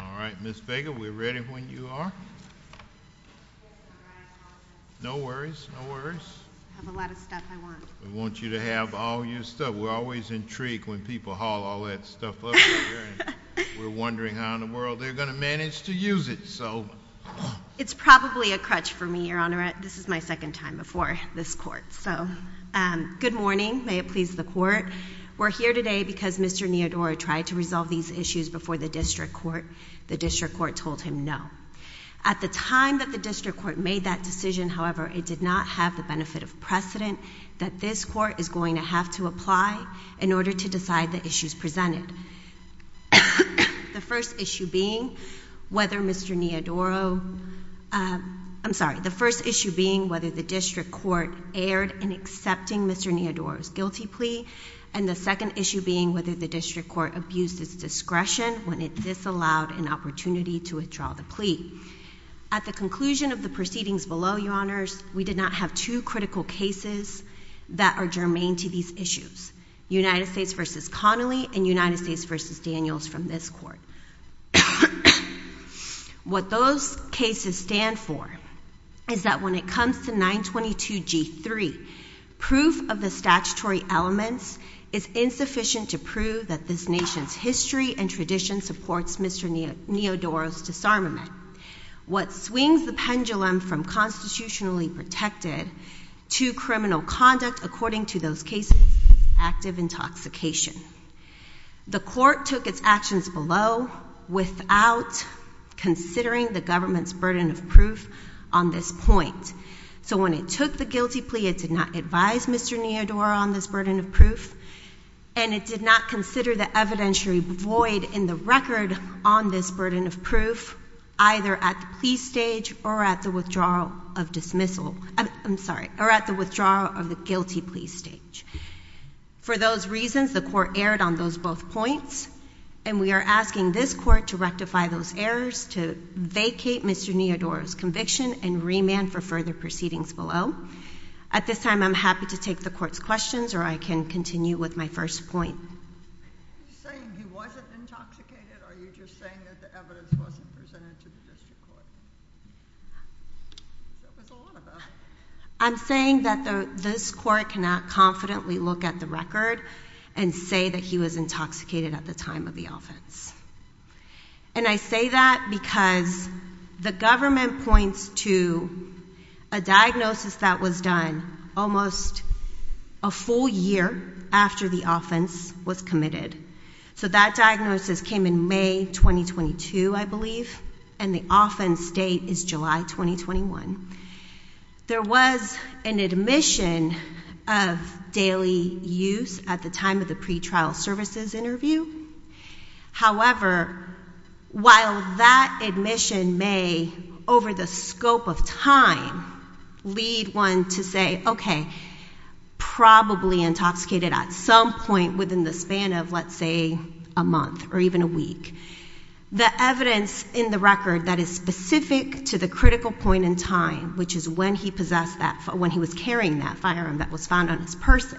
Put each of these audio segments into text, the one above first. All right, Ms. Vega, we're ready when you are. No worries. No worries. I have a lot of stuff I want. We want you to have all your stuff. We're always intrigued when people haul all that stuff over here, and we're wondering how in the world they're going to manage to use it, so. It's probably a crutch for me, Your Honor. This is my second time before this Court, so. Good morning. May it please the Court. We're here today because Mr. Nyandoro tried to resolve these issues before the District Court. The District Court told him no. At the time that the District Court made that decision, however, it did not have the benefit of precedent that this Court is going to have to apply in order to decide the issues presented. The first issue being whether Mr. Nyandoro—I'm sorry. The first issue being whether the District Court erred in accepting Mr. Nyandoro's guilty plea, and the second issue being whether the District Court abused its discretion when it disallowed an opportunity to withdraw the plea. At the conclusion of the proceedings below, Your Honors, we did not have two critical cases that are germane to these issues, United States v. Connolly and United States v. Daniels from this Court. What those cases stand for is that when it comes to 922G3, proof of the statutory elements is insufficient to prove that this nation's history and tradition supports Mr. Nyandoro's disarmament. What swings the pendulum from constitutionally protected to criminal conduct, according to those cases, is active intoxication. The Court took its actions below without considering the government's burden of proof on this point. So when it took the guilty plea, it did not advise Mr. Nyandoro on this burden of proof, and it did not consider the evidentiary void in the record on this burden of proof, either at the plea stage or at the withdrawal of dismissal—I'm sorry, or at the withdrawal of the guilty plea stage. For those reasons, the Court erred on those both points, and we are asking this Court to rectify those errors, to vacate Mr. Nyandoro's conviction, and remand for further proceedings below. At this time, I'm happy to take the Court's questions, or I can continue with my first point. Are you saying he wasn't intoxicated, or are you just saying that the evidence wasn't presented to the district court? There was a lot of that. I'm saying that this Court cannot confidently look at the record and say that he was intoxicated at the time of the offense. And I say that because the government points to a diagnosis that was done almost a full year after the offense was committed. So that diagnosis came in May 2022, I believe, and the offense date is July 2021. There was an admission of daily use at the time of the pretrial services interview. However, while that admission may, over the scope of time, lead one to say, okay, probably intoxicated at some point within the span of, let's say, a month or even a week, the evidence in the record that is specific to the critical point in time, which is when he was carrying that firearm that was found on his person,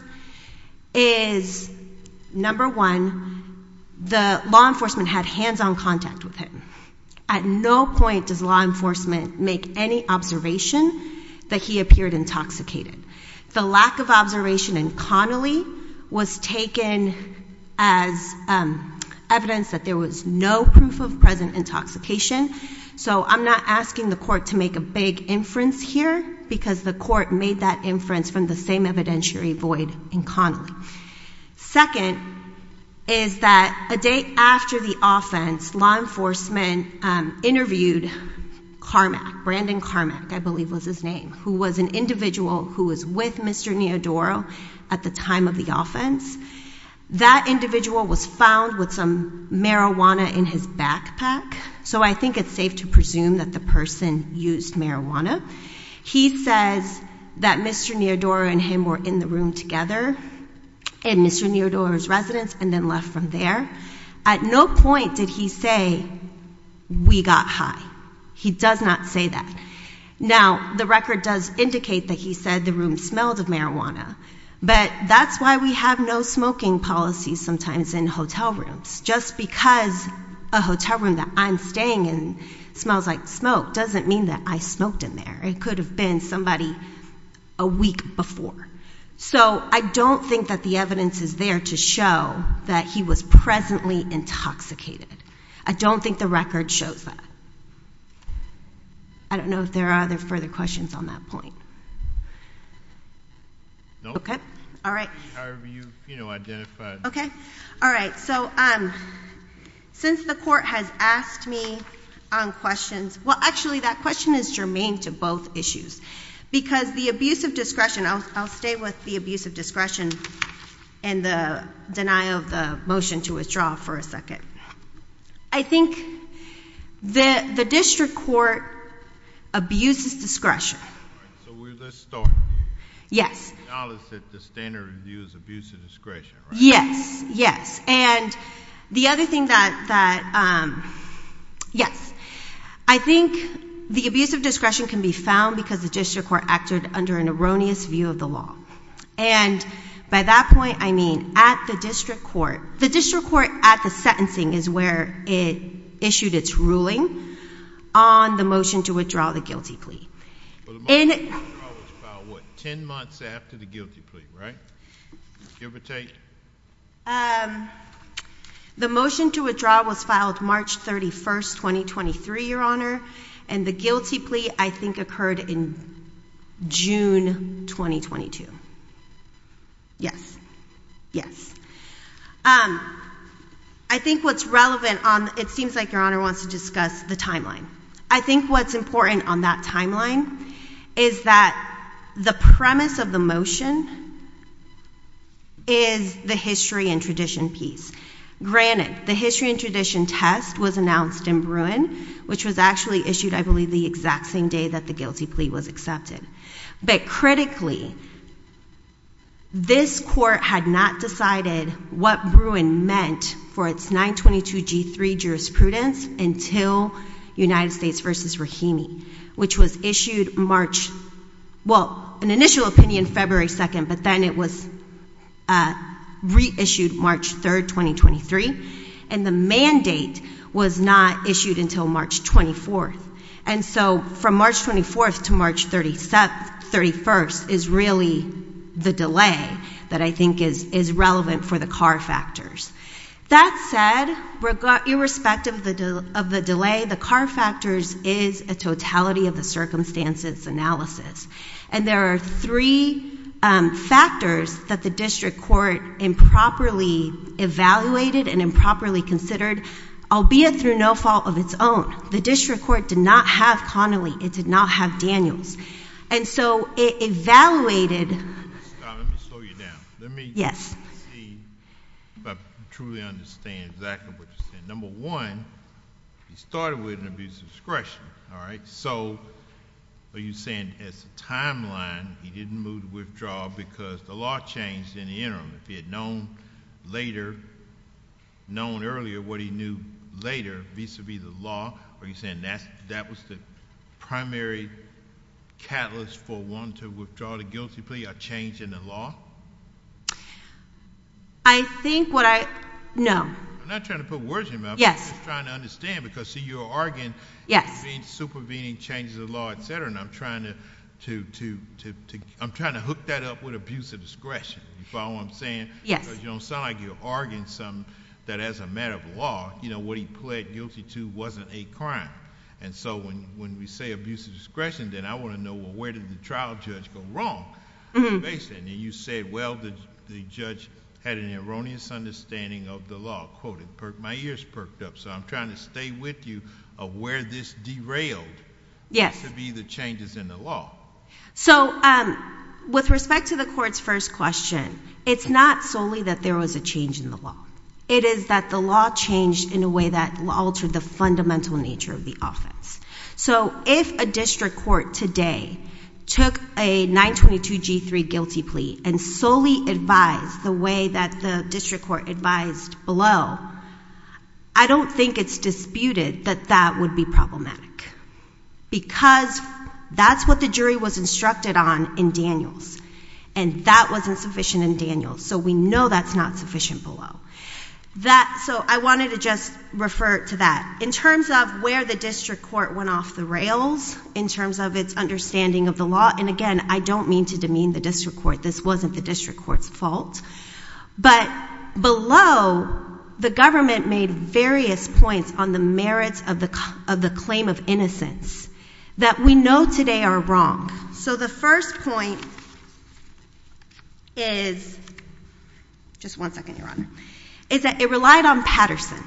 is, number one, the law enforcement had hands-on contact with him. At no point does law enforcement make any observation that he appeared intoxicated. The lack of observation in Connolly was taken as evidence that there was no proof of present intoxication. So I'm not asking the court to make a big inference here because the court made that inference from the same evidentiary void in Connolly. Second is that a day after the offense, law enforcement interviewed Carmack, Brandon Carmack, I believe was his name, who was an individual who was with Mr. Neodoro at the time of the That individual was found with some marijuana in his backpack. So I think it's safe to presume that the person used marijuana. He says that Mr. Neodoro and him were in the room together in Mr. Neodoro's residence and then left from there. At no point did he say, we got high. He does not say that. Now, the record does indicate that he said the room smelled of marijuana, but that's why we have no smoking policies sometimes in hotel rooms. Just because a hotel room that I'm staying in smells like smoke doesn't mean that I smoked in there. It could have been somebody a week before. So I don't think that the evidence is there to show that he was presently intoxicated. I don't think the record shows that. I don't know if there are other further questions on that point. No. Okay. All right. However you've identified. Okay. All right. All right. So since the court has asked me on questions, well, actually, that question is germane to both issues because the abuse of discretion, I'll stay with the abuse of discretion and the denial of the motion to withdraw for a second. I think the district court abuses discretion. All right. So let's start. Yes. I think the abuse of discretion can be found because the district court acted under an erroneous view of the law. And by that point, I mean at the district court. The district court at the sentencing is where it issued its ruling on the motion to withdraw the guilty plea. Well, the motion to withdraw was filed, what, 10 months after the guilty plea, right? Give or take? The motion to withdraw was filed March 31st, 2023, Your Honor. And the guilty plea, I think, occurred in June 2022. Yes. Yes. I think what's relevant on, it seems like Your Honor wants to discuss the timeline. I think what's important on that timeline is that the premise of the motion is the history and tradition piece. Granted, the history and tradition test was announced in Bruin, which was actually issued, I believe, the exact same day that the guilty plea was accepted. But critically, this court had not decided what Bruin meant for its 922G3 jurisprudence until United States v. Rahimi, which was issued March, well, an initial opinion February 2nd, but then it was reissued March 3rd, 2023. And the mandate was not issued until March 24th. And so from March 24th to March 31st is really the delay that I think is relevant for the car factors. That said, irrespective of the delay, the car factors is a totality of the circumstances analysis. And there are three factors that the district court improperly evaluated and improperly considered, albeit through no fault of its own. The district court did not have Connolly. It did not have Daniels. And so it evaluated— Stop. Let me slow you down. Let me— Yes. Let me see if I truly understand exactly what you're saying. Number one, he started with an abuse of discretion, all right? So are you saying as a timeline, he didn't move the withdrawal because the law changed in the interim? If he had known later—known earlier what he knew later vis-a-vis the law, are you saying that was the primary catalyst for wanting to withdraw the guilty plea, a change in the law? I think what I—no. I'm not trying to put words in your mouth. Yes. I'm just trying to understand because, see, you're arguing— Yes. It means supervening, changes of law, et cetera. And I'm trying to hook that up with abuse of discretion. You follow what I'm saying? Yes. Because you don't sound like you're arguing something that as a matter of law, you know, what he pled guilty to wasn't a crime. And so when we say abuse of discretion, then I want to know, well, where did the trial judge go wrong? And based on that, you said, well, the judge had an erroneous understanding of the law. Quote, it perked—my ears perked up. So I'm trying to stay with you of where this derailed— Yes. —to be the changes in the law. So with respect to the Court's first question, it's not solely that there was a change in the law. It is that the law changed in a way that altered the fundamental nature of the offense. So if a district court today took a 922G3 guilty plea and solely advised the way that the district court advised below, I don't think it's disputed that that would be problematic because that's what the jury was instructed on in Daniels, and that wasn't sufficient in Daniels. So we know that's not sufficient below. So I wanted to just refer to that. In terms of where the district court went off the rails, in terms of its understanding of the law—and again, I don't mean to demean the district court. This wasn't the district court's fault. But below, the government made various points on the merits of the claim of innocence that we know today are wrong. So the first point is—just one second, Your Honor—is that it relied on Patterson.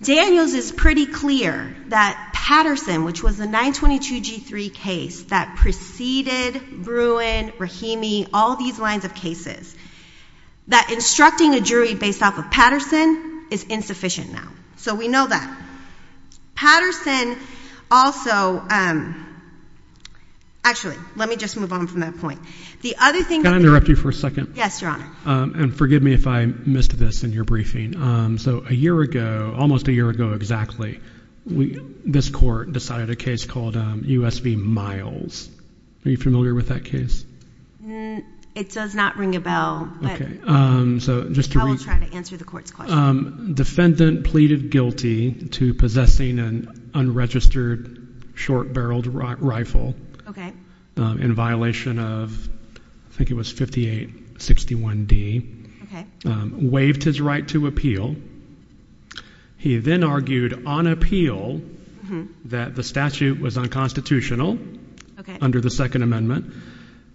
Daniels is pretty clear that Patterson, which was the 922G3 case that preceded Bruin, Rahimi, all these lines of cases, that instructing a jury based off of Patterson is insufficient now. So we know that. Patterson also—actually, let me just move on from that point. The other thing— Can I interrupt you for a second? Yes, Your Honor. And forgive me if I missed this in your briefing. So a year ago—almost a year ago, exactly—this court decided a case called U.S. v. Miles. Are you familiar with that case? It does not ring a bell, but I will try to answer the court's question. Defendant pleaded guilty to possessing an unregistered short-barreled rifle in violation of—I think it was 5861D—waived his right to appeal. He then argued on appeal that the statute was unconstitutional under the Second Amendment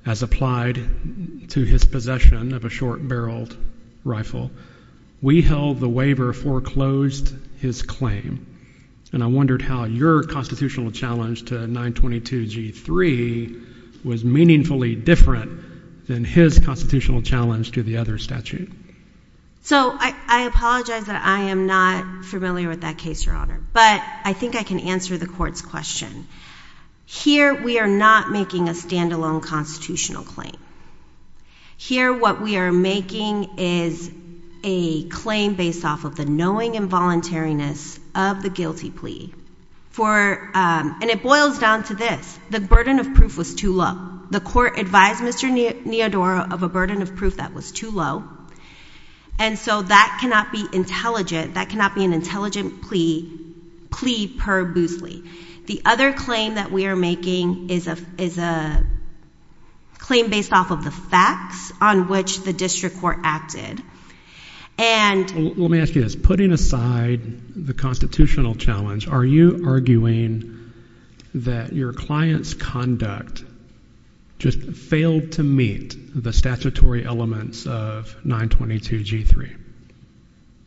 as applied to his possession of a short-barreled rifle. We held the waiver foreclosed his claim, and I wondered how your constitutional challenge to 922G3 was meaningfully different than his constitutional challenge to the other statute. So, I apologize that I am not familiar with that case, Your Honor, but I think I can answer the court's question. Here we are not making a standalone constitutional claim. Here what we are making is a claim based off of the knowing involuntariness of the guilty plea, and it boils down to this. The burden of proof was too low. The court advised Mr. Neodora of a burden of proof that was too low, and so that cannot be intelligent. That cannot be an intelligent plea per Bousley. The other claim that we are making is a claim based off of the facts on which the district court acted. Let me ask you this. Putting aside the constitutional challenge, are you arguing that your client's conduct just failed to meet the statutory elements of 922G3?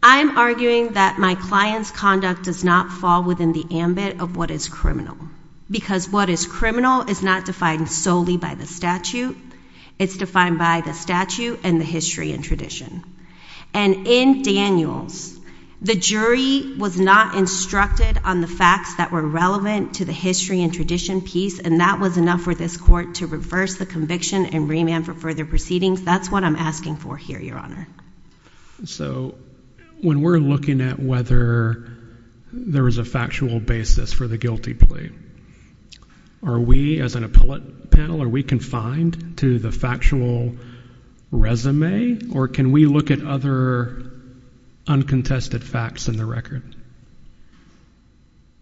I am arguing that my client's conduct does not fall within the ambit of what is criminal, because what is criminal is not defined solely by the statute. It's defined by the statute and the history and tradition. And in Daniels, the jury was not instructed on the facts that were relevant to the history and tradition piece, and that was enough for this court to reverse the conviction and remand for further proceedings. That's what I'm asking for here, Your Honor. So when we're looking at whether there is a factual basis for the guilty plea, are we, as an appellate panel, are we confined to the factual resume, or can we look at other uncontested facts in the record?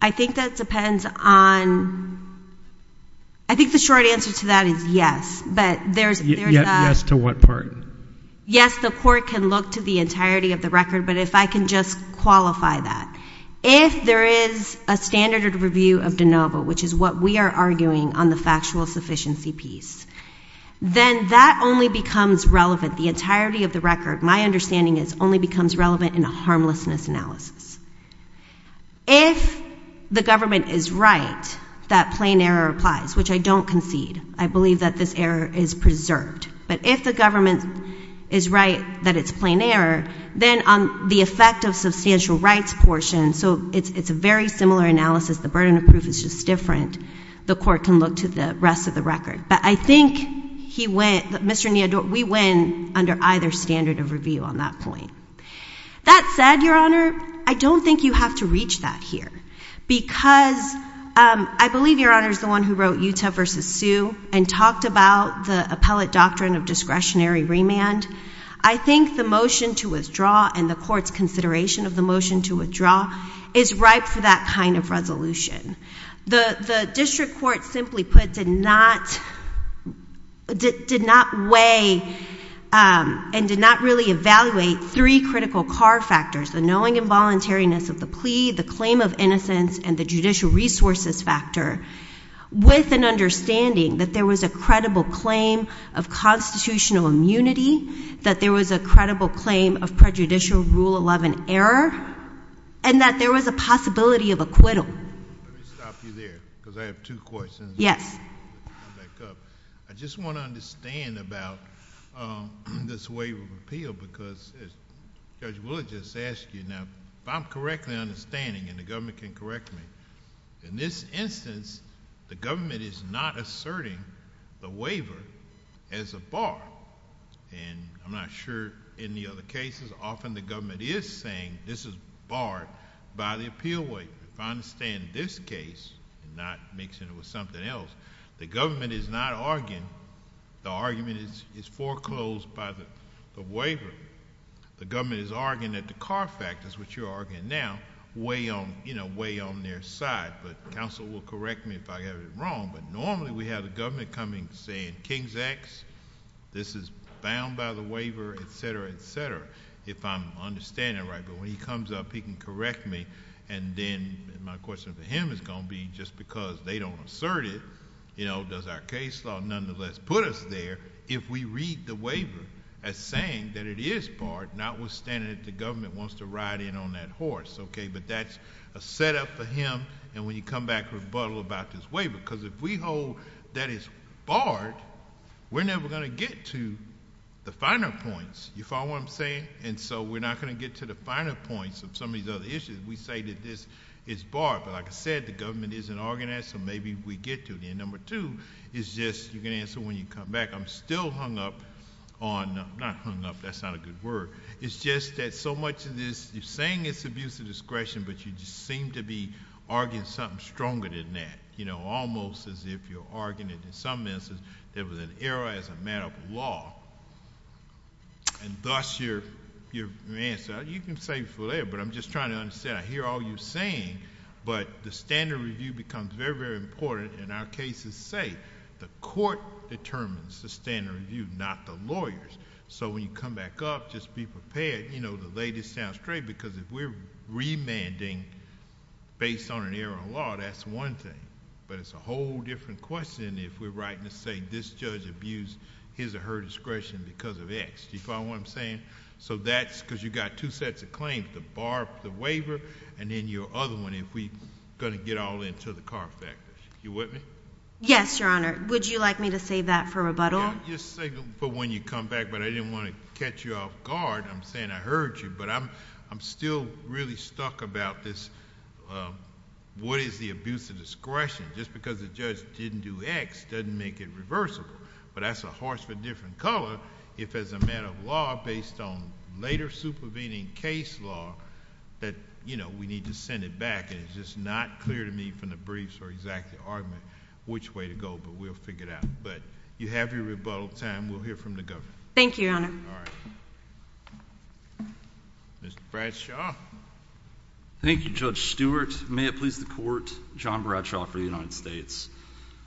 I think that depends on—I think the short answer to that is yes, but there's— Yes to what part? Yes, the court can look to the entirety of the record, but if I can just qualify that. If there is a standard review of de novo, which is what we are arguing on the factual sufficiency piece, then that only becomes relevant, the entirety of the record, my understanding is, only becomes relevant in a harmlessness analysis. If the government is right that plain error applies, which I don't concede, I believe that this error is preserved, but if the government is right that it's plain error, then the effect of substantial rights portion, so it's a very similar analysis, the burden of proof is just different, the court can look to the rest of the record. But I think he went—Mr. Neodort, we went under either standard of review on that point. That said, Your Honor, I don't think you have to reach that here, because I believe, Your Honor, is the one who wrote Utah v. Sue and talked about the appellate doctrine of discretionary remand. I think the motion to withdraw and the court's consideration of the motion to withdraw is ripe for that kind of resolution. The district court, simply put, did not weigh and did not really evaluate three critical car factors, the knowing involuntariness of the plea, the claim of innocence, and the judicial resources factor, with an understanding that there was a credible claim of constitutional immunity, that there was a credible claim of prejudicial Rule 11 error, and that there was a possibility of acquittal. Let me stop you there, because I have two questions. Yes. I'll back up. I just want to understand about this waiver of appeal, because Judge Willard just asked you, now, if I'm correctly understanding, and the government can correct me, in this instance, the government is not asserting the waiver as a bar, and I'm not sure in the other cases, often, the government is saying this is barred by the appeal waiver. If I understand this case, not mixing it with something else, the government is not arguing, the argument is foreclosed by the waiver. The government is arguing that the car factors, which you're arguing now, weigh on their side, but counsel will correct me if I have it wrong, but normally, we have the government coming and saying, King's X, this is bound by the waiver, et cetera, et cetera, if I'm understanding it right, but when he comes up, he can correct me, and then my question for him is going to be, just because they don't assert it, does our case law, nonetheless, put us there, if we read the waiver as saying that it is barred, notwithstanding that the government wants to ride in on that horse. That's a setup for him, and when you come back, rebuttal about this waiver, because if we hold that it's barred, we're never going to get to the finer points. You follow what I'm saying? We're not going to get to the finer points of some of these other issues. We say that this is barred, but like I said, the government isn't organized, so maybe we get to it. Number two is just, you can answer when you come back, I'm still hung up on, not hung up, that's not a good word. It's just that so much of this, you're saying it's abuse of discretion, but you just seem to be arguing something stronger than that, almost as if you're arguing, in some instances, there was an error as a matter of law, and thus, your answer, you can say it for later, but I'm just trying to understand, I hear all you're saying, but the standard review becomes very, very important, and our cases say, the court determines the standard review, not the lawyers. When you come back up, just be prepared, the latest sounds straight, because if we're remanding based on an error of law, that's one thing, but it's a whole different question if we're writing to say, this judge abused his or her discretion because of X. Do you follow what I'm saying? That's because you've got two sets of claims, the bar, the waiver, and then your other one, if we're going to get all into the car factor. You with me? Yes, Your Honor. Would you like me to save that for rebuttal? I'll just save it for when you come back, but I didn't want to catch you off guard. I'm saying I heard you, but I'm still really stuck about this, what is the abuse of discretion? Just because the judge didn't do X, doesn't make it reversible, but that's a horse for a different color, if as a matter of law, based on later supervening case law, that we need to send it back, and it's just not clear to me from the briefs or exactly argument which way to go, but we'll figure it out. You have your rebuttal time. We'll hear from the governor. Thank you, Your Honor. All right. Mr. Bradshaw. Thank you, Judge Stewart. May it please the Court, John Bradshaw for the United States.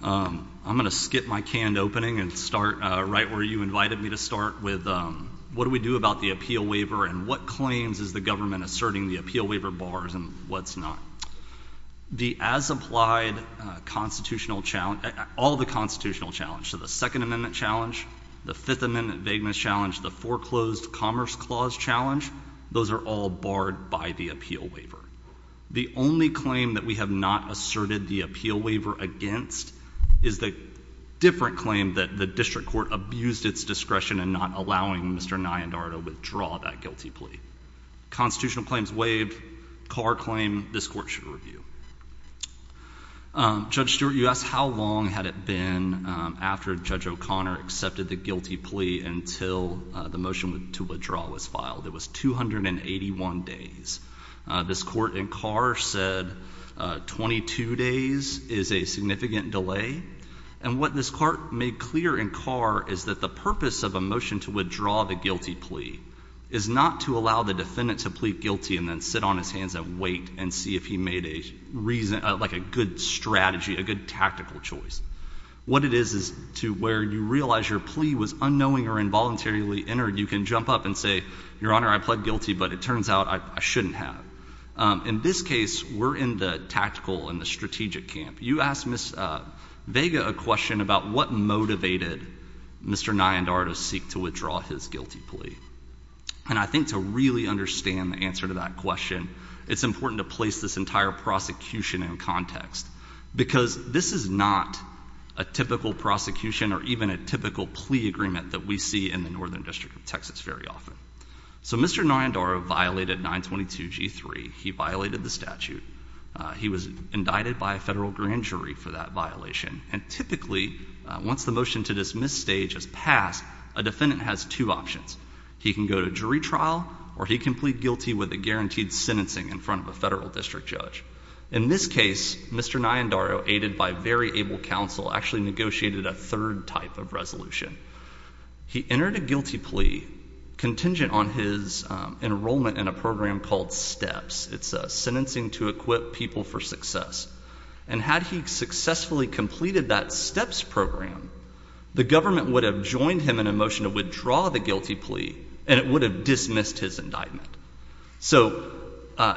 I'm going to skip my canned opening and start right where you invited me to start with, what do we do about the appeal waiver, and what claims is the government asserting the appeal waiver bars, and what's not? The as-applied constitutional challenge, all the constitutional challenge, so the Second Amendment challenge, the Fifth Amendment vagueness challenge, the foreclosed commerce clause challenge, those are all barred by the appeal waiver. The only claim that we have not asserted the appeal waiver against is the different claim that the district court abused its discretion in not allowing Mr. Nyandar to withdraw that guilty plea. Constitutional claims waived. Carr claim, this Court should review. Judge Stewart, you asked how long had it been after Judge O'Connor accepted the guilty plea until the motion to withdraw was filed. It was 281 days. This Court in Carr said 22 days is a significant delay, and what this Court made clear in Carr is that the purpose of a motion to withdraw the guilty plea is not to allow the defendant to plead guilty and then sit on his hands and wait and see if he made a reason, like a good strategy, a good tactical choice. What it is is to where you realize your plea was unknowing or involuntarily entered, you can jump up and say, Your Honor, I pled guilty, but it turns out I shouldn't have. In this case, we're in the tactical and the strategic camp. You asked Ms. Vega a question about what motivated Mr. Nyandar to seek to withdraw his guilty plea. And I think to really understand the answer to that question, it's important to place this entire prosecution in context, because this is not a typical prosecution or even a typical plea agreement that we see in the Northern District of Texas very often. So Mr. Nyandar violated 922G3. He violated the statute. He was indicted by a federal grand jury for that violation. And typically, once the motion to dismiss stage has passed, a defendant has two options. He can go to jury trial, or he can plead guilty with a guaranteed sentencing in front of a federal district judge. In this case, Mr. Nyandar, aided by very able counsel, actually negotiated a third type of resolution. He entered a guilty plea contingent on his enrollment in a program called STEPS. It's Sentencing to Equip People for Success. And had he successfully completed that STEPS program, the government would have joined him in a motion to withdraw the guilty plea, and it would have dismissed his indictment. So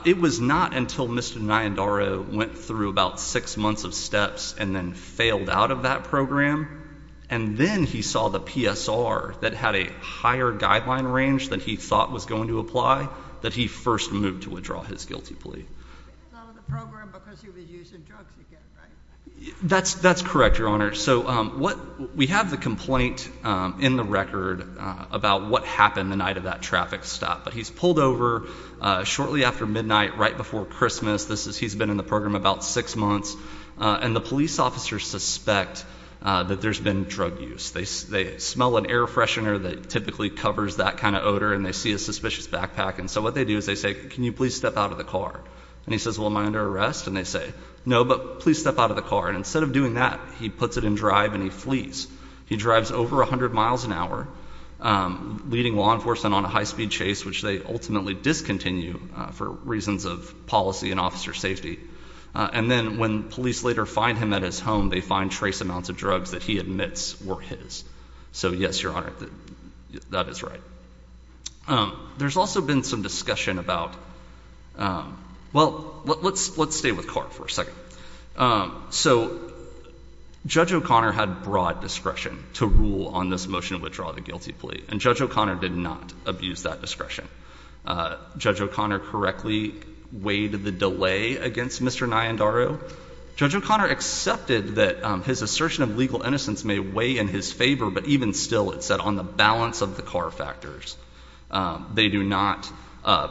it was not until Mr. Nyandar went through about six months of STEPS and then failed out of that program, and then he saw the PSR that had a higher guideline range than he thought was going to apply, that he first moved to withdraw his guilty plea. He failed the program because he was using drugs again, right? That's correct, Your Honor. So we have the complaint in the record about what happened the night of that traffic stop. But he's pulled over shortly after midnight, right before Christmas. He's been in the program about six months. And the police officers suspect that there's been drug use. They smell an air freshener that typically covers that kind of odor, and they see a suspicious backpack. And so what they do is they say, can you please step out of the car? And he says, well, am I under arrest? And they say, no, but please step out of the car. And instead of doing that, he puts it in drive and he flees. He drives over 100 miles an hour, leading law enforcement on a high speed chase, which they ultimately discontinue for reasons of policy and officer safety. And then when police later find him at his home, they find trace amounts of drugs that he admits were his. So yes, Your Honor, that is right. There's also been some discussion about, well, let's stay with CARP for a second. So Judge O'Connor had broad discretion to rule on this motion to withdraw the guilty plea. And Judge O'Connor did not abuse that discretion. Judge O'Connor correctly weighed the delay against Mr. Nayandaru. Judge O'Connor accepted that his assertion of legal innocence may weigh in his favor, but even still, it said on the balance of the car factors, they do not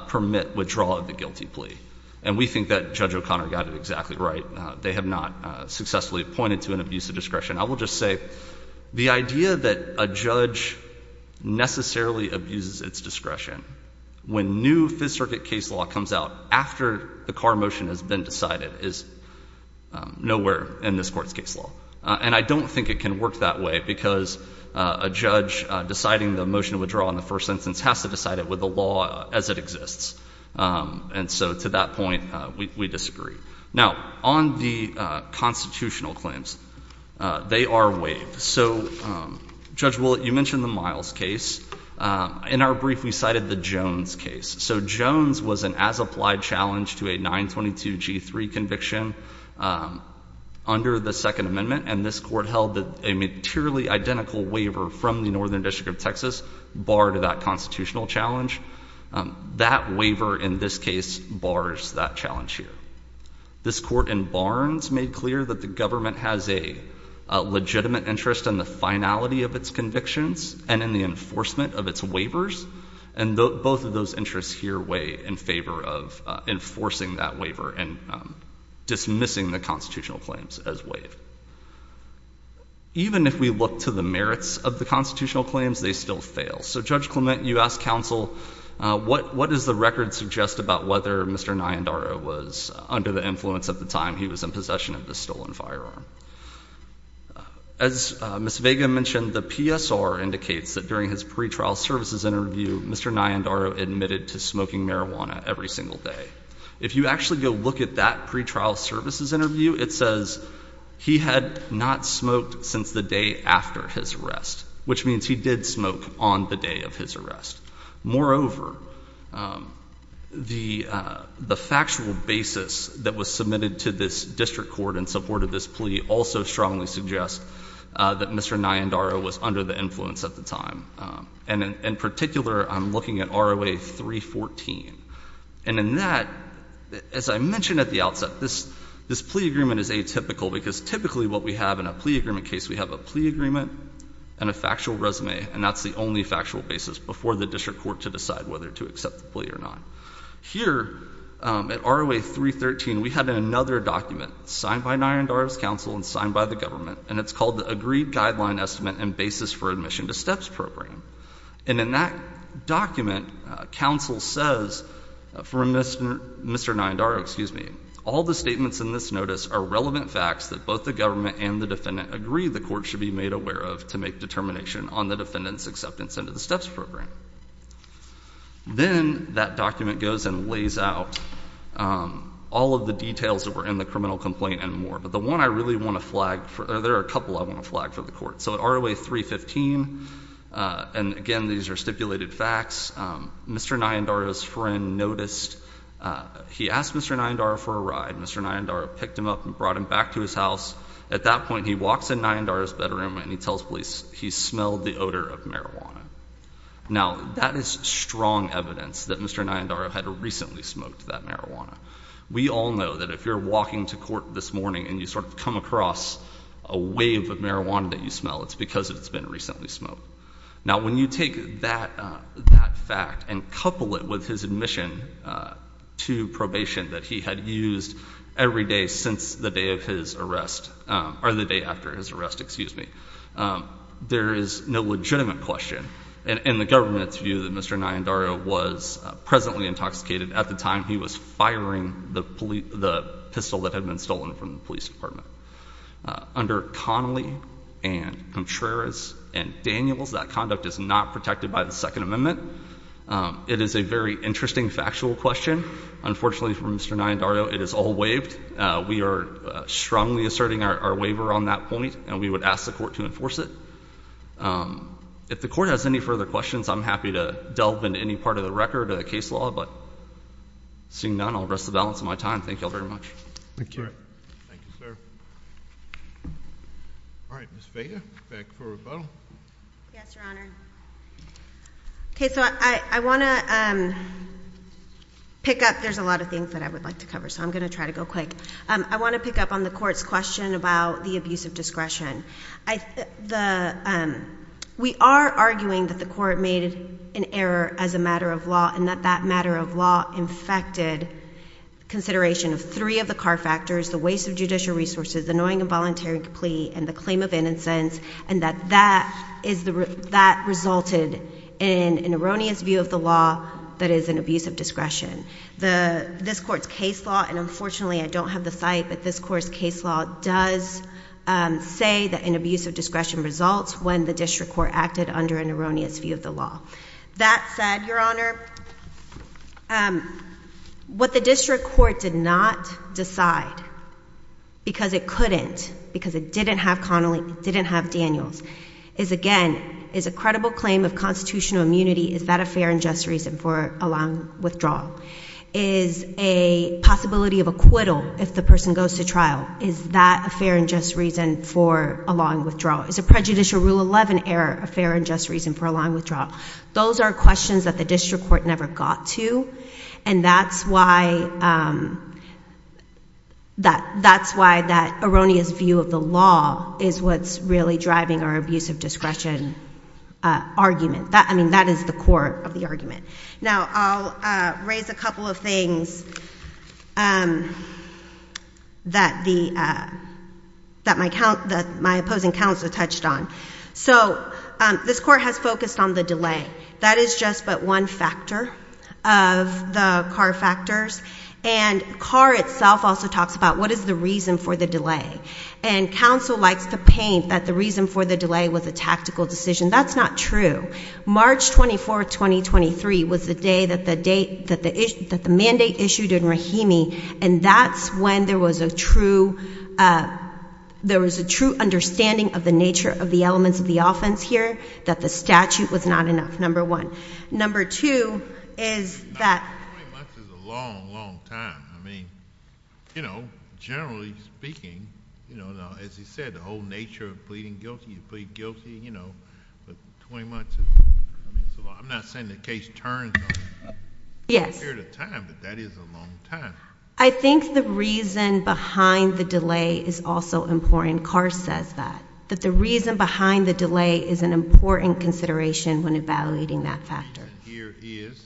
permit withdrawal of the guilty plea. And we think that Judge O'Connor got it exactly right. They have not successfully pointed to an abuse of discretion. I will just say, the idea that a judge necessarily abuses its discretion when new Fifth Circuit case law comes out after the car motion has been decided is nowhere in this court's case law. And I don't think it can work that way because a judge deciding the motion to withdraw in the first instance has to decide it with the law as it exists. And so to that point, we disagree. Now, on the constitutional claims, they are waived. So Judge Willett, you mentioned the Miles case. In our brief, we cited the Jones case. So Jones was an as-applied challenge to a 922 G3 conviction under the Second Amendment. And this court held that a materially identical waiver from the Northern District of Texas barred that constitutional challenge. That waiver in this case bars that challenge here. This court in Barnes made clear that the government has a legitimate interest in the finality of its convictions and in the enforcement of its waivers. And both of those interests here weigh in favor of enforcing that waiver and dismissing the constitutional claims as waived. Even if we look to the merits of the constitutional claims, they still fail. So Judge Clement, you asked counsel, what does the record suggest about whether Mr. Nayandaro was under the influence at the time he was in possession of the stolen firearm? As Ms. Vega mentioned, the PSR indicates that during his pretrial services interview, Mr. Nayandaro admitted to smoking marijuana every single day. If you actually go look at that pretrial services interview, it says he had not smoked since the day after his arrest. Which means he did smoke on the day of his arrest. Moreover, the factual basis that was submitted to this district court and supported this plea also strongly suggest that Mr. Nayandaro was under the influence at the time. And in particular, I'm looking at ROA 314. And in that, as I mentioned at the outset, this plea agreement is atypical because typically what we have in a plea agreement case, we have a plea agreement and a factual resume, and that's the only factual basis before the district court to decide whether to accept the plea or not. Here, at ROA 313, we had another document signed by Nayandaro's counsel and signed by the government. And it's called the Agreed Guideline Estimate and Basis for Admission to STEPS Program. And in that document, counsel says from Mr. Nayandaro, excuse me, all the statements in this notice are relevant facts that both the government and the defendant agree the court should be made aware of to make determination on the defendant's acceptance into the STEPS program. Then that document goes and lays out all of the details that were in the criminal complaint and more. But the one I really want to flag, or there are a couple I want to flag for the court. So ROA 315, and again, these are stipulated facts. Mr. Nayandaro's friend noticed, he asked Mr. Nayandaro for a ride. Mr. Nayandaro picked him up and brought him back to his house. At that point, he walks in Nayandaro's bedroom and he tells police, he smelled the odor of marijuana. Now, that is strong evidence that Mr. Nayandaro had recently smoked that marijuana. We all know that if you're walking to court this morning and you sort of come across a wave of marijuana that you smell, it's because it's been recently smoked. Now, when you take that fact and couple it with his admission to probation that he had used every day since the day of his arrest, or the day after his arrest, excuse me. There is no legitimate question in the government's view that Mr. Nayandaro was presently intoxicated at the time he was firing the pistol that had been stolen from the police department. Under Connolly and Contreras and Daniels, that conduct is not protected by the Second Amendment. It is a very interesting factual question. Unfortunately for Mr. Nayandaro, it is all waived. We are strongly asserting our waiver on that point, and we would ask the court to enforce it. If the court has any further questions, I'm happy to delve into any part of the record of the case law, but seeing none, I'll rest the balance of my time. Thank you all very much. Thank you. Thank you, sir. All right, Ms. Vega, back for rebuttal. Yes, Your Honor. Okay, so I want to pick up, there's a lot of things that I would like to cover, so I'm going to try to go quick. I want to pick up on the court's question about the abuse of discretion. We are arguing that the court made an error as a matter of law, and that that matter of law infected consideration of three of the car factors, the waste of judicial resources, the knowing involuntary plea, and the claim of innocence. And that that resulted in an erroneous view of the law that is an abuse of discretion. This court's case law, and unfortunately I don't have the site, but this court's case law does say that an abuse of discretion results when the district court acted under an erroneous view of the law. That said, Your Honor, what the district court did not decide, because it couldn't, because it didn't have Connelly, it didn't have Daniels, is again, is a credible claim of constitutional immunity, is that a fair and just reason for allowing withdrawal? Is a possibility of acquittal if the person goes to trial, is that a fair and just reason for allowing withdrawal? Is a prejudicial rule 11 error a fair and just reason for allowing withdrawal? Those are questions that the district court never got to, and that's why that erroneous view of the law is what's really driving our abuse of discretion argument. I mean, that is the core of the argument. Now, I'll raise a couple of things that my opposing counsel touched on. So, this court has focused on the delay. That is just but one factor of the Carr factors. And Carr itself also talks about what is the reason for the delay. And counsel likes to paint that the reason for the delay was a tactical decision. That's not true. March 24th, 2023 was the day that the mandate issued in Rahimi, and that's when there was a true understanding of the nature of the elements of the offense here. That the statute was not enough, number one. Number two is that- 20 months is a long, long time. I mean, generally speaking, as you said, the whole nature of pleading guilty, you plead guilty. But 20 months is, I'm not saying the case turns over a period of time, but that is a long time. I think the reason behind the delay is also important, Carr says that. That the reason behind the delay is an important consideration when evaluating that factor. Here is.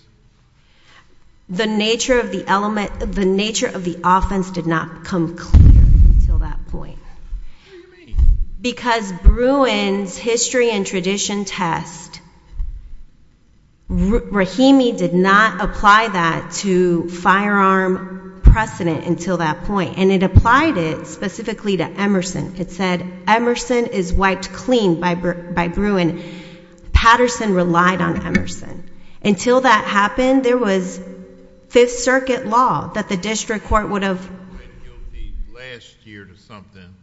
The nature of the element, the nature of the offense did not come clear until that point. Because Bruin's history and tradition test, Rahimi did not apply that to firearm precedent until that point. And it applied it specifically to Emerson. It said, Emerson is wiped clean by Bruin. Patterson relied on Emerson. Until that happened, there was Fifth Circuit law that the district court would have- Played guilty last year to something.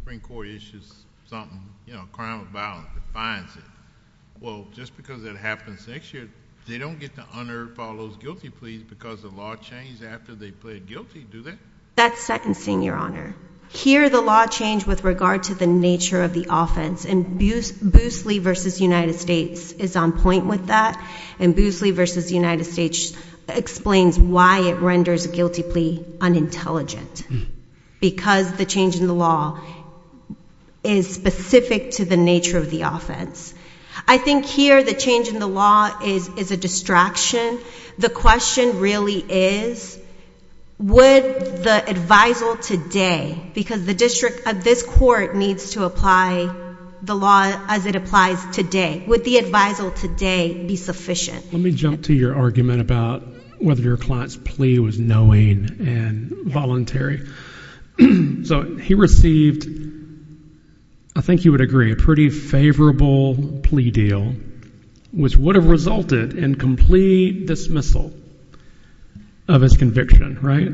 Supreme Court issues something, you know, a crime of violence, defines it. Well, just because it happens next year, they don't get to honor if all those guilty pleas because the law changed after they pled guilty, do they? That's second seeing, your honor. Here, the law changed with regard to the nature of the offense. And Boosley versus United States is on point with that. And Boosley versus United States explains why it renders a guilty plea unintelligent. Because the change in the law is specific to the nature of the offense. I think here, the change in the law is a distraction. The question really is, would the advisal today, because the district of this court needs to apply the law as it applies today. Would the advisal today be sufficient? Let me jump to your argument about whether your client's plea was knowing and voluntary. So he received, I think you would agree, a pretty favorable plea deal. Which would have resulted in complete dismissal of his conviction, right?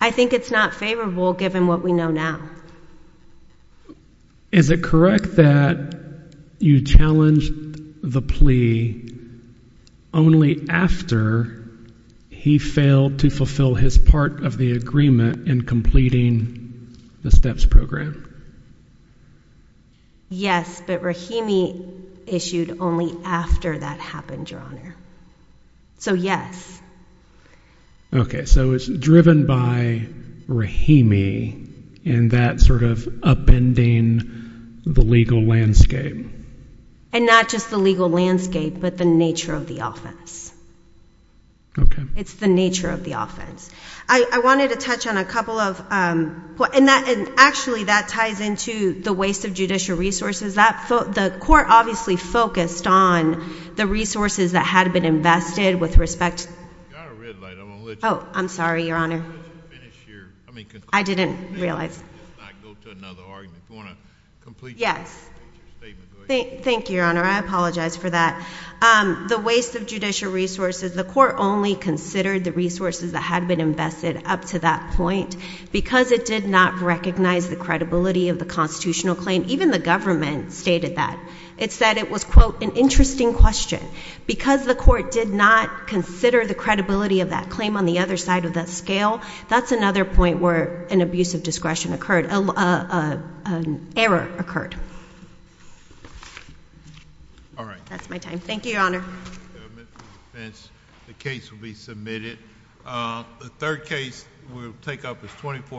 I think it's not favorable given what we know now. Is it correct that you challenged the plea only after he failed to fulfill his part of the agreement in completing the steps program? Yes, but Rahimi issued only after that happened, Your Honor. So yes. Okay, so it's driven by Rahimi and that sort of upending the legal landscape. And not just the legal landscape, but the nature of the offense. Okay. It's the nature of the offense. I wanted to touch on a couple of, and actually, that type of legal landscape ties into the waste of judicial resources. The court obviously focused on the resources that had been invested with respect to- You've got a red light. I'm going to let you- Oh, I'm sorry, Your Honor. Let's finish here. I mean- I didn't realize. Let's not go to another argument. Do you want to complete your statement? Go ahead. Thank you, Your Honor. I apologize for that. The waste of judicial resources, the court only considered the resources that had been invested up to that point because it did not recognize the credibility of the constitutional claim. Even the government stated that. It said it was, quote, an interesting question. Because the court did not consider the credibility of that claim on the other side of that scale, that's another point where an abuse of discretion occurred, an error occurred. All right. That's my time. Thank you, Your Honor. The case will be submitted. The third case we'll take up is 24-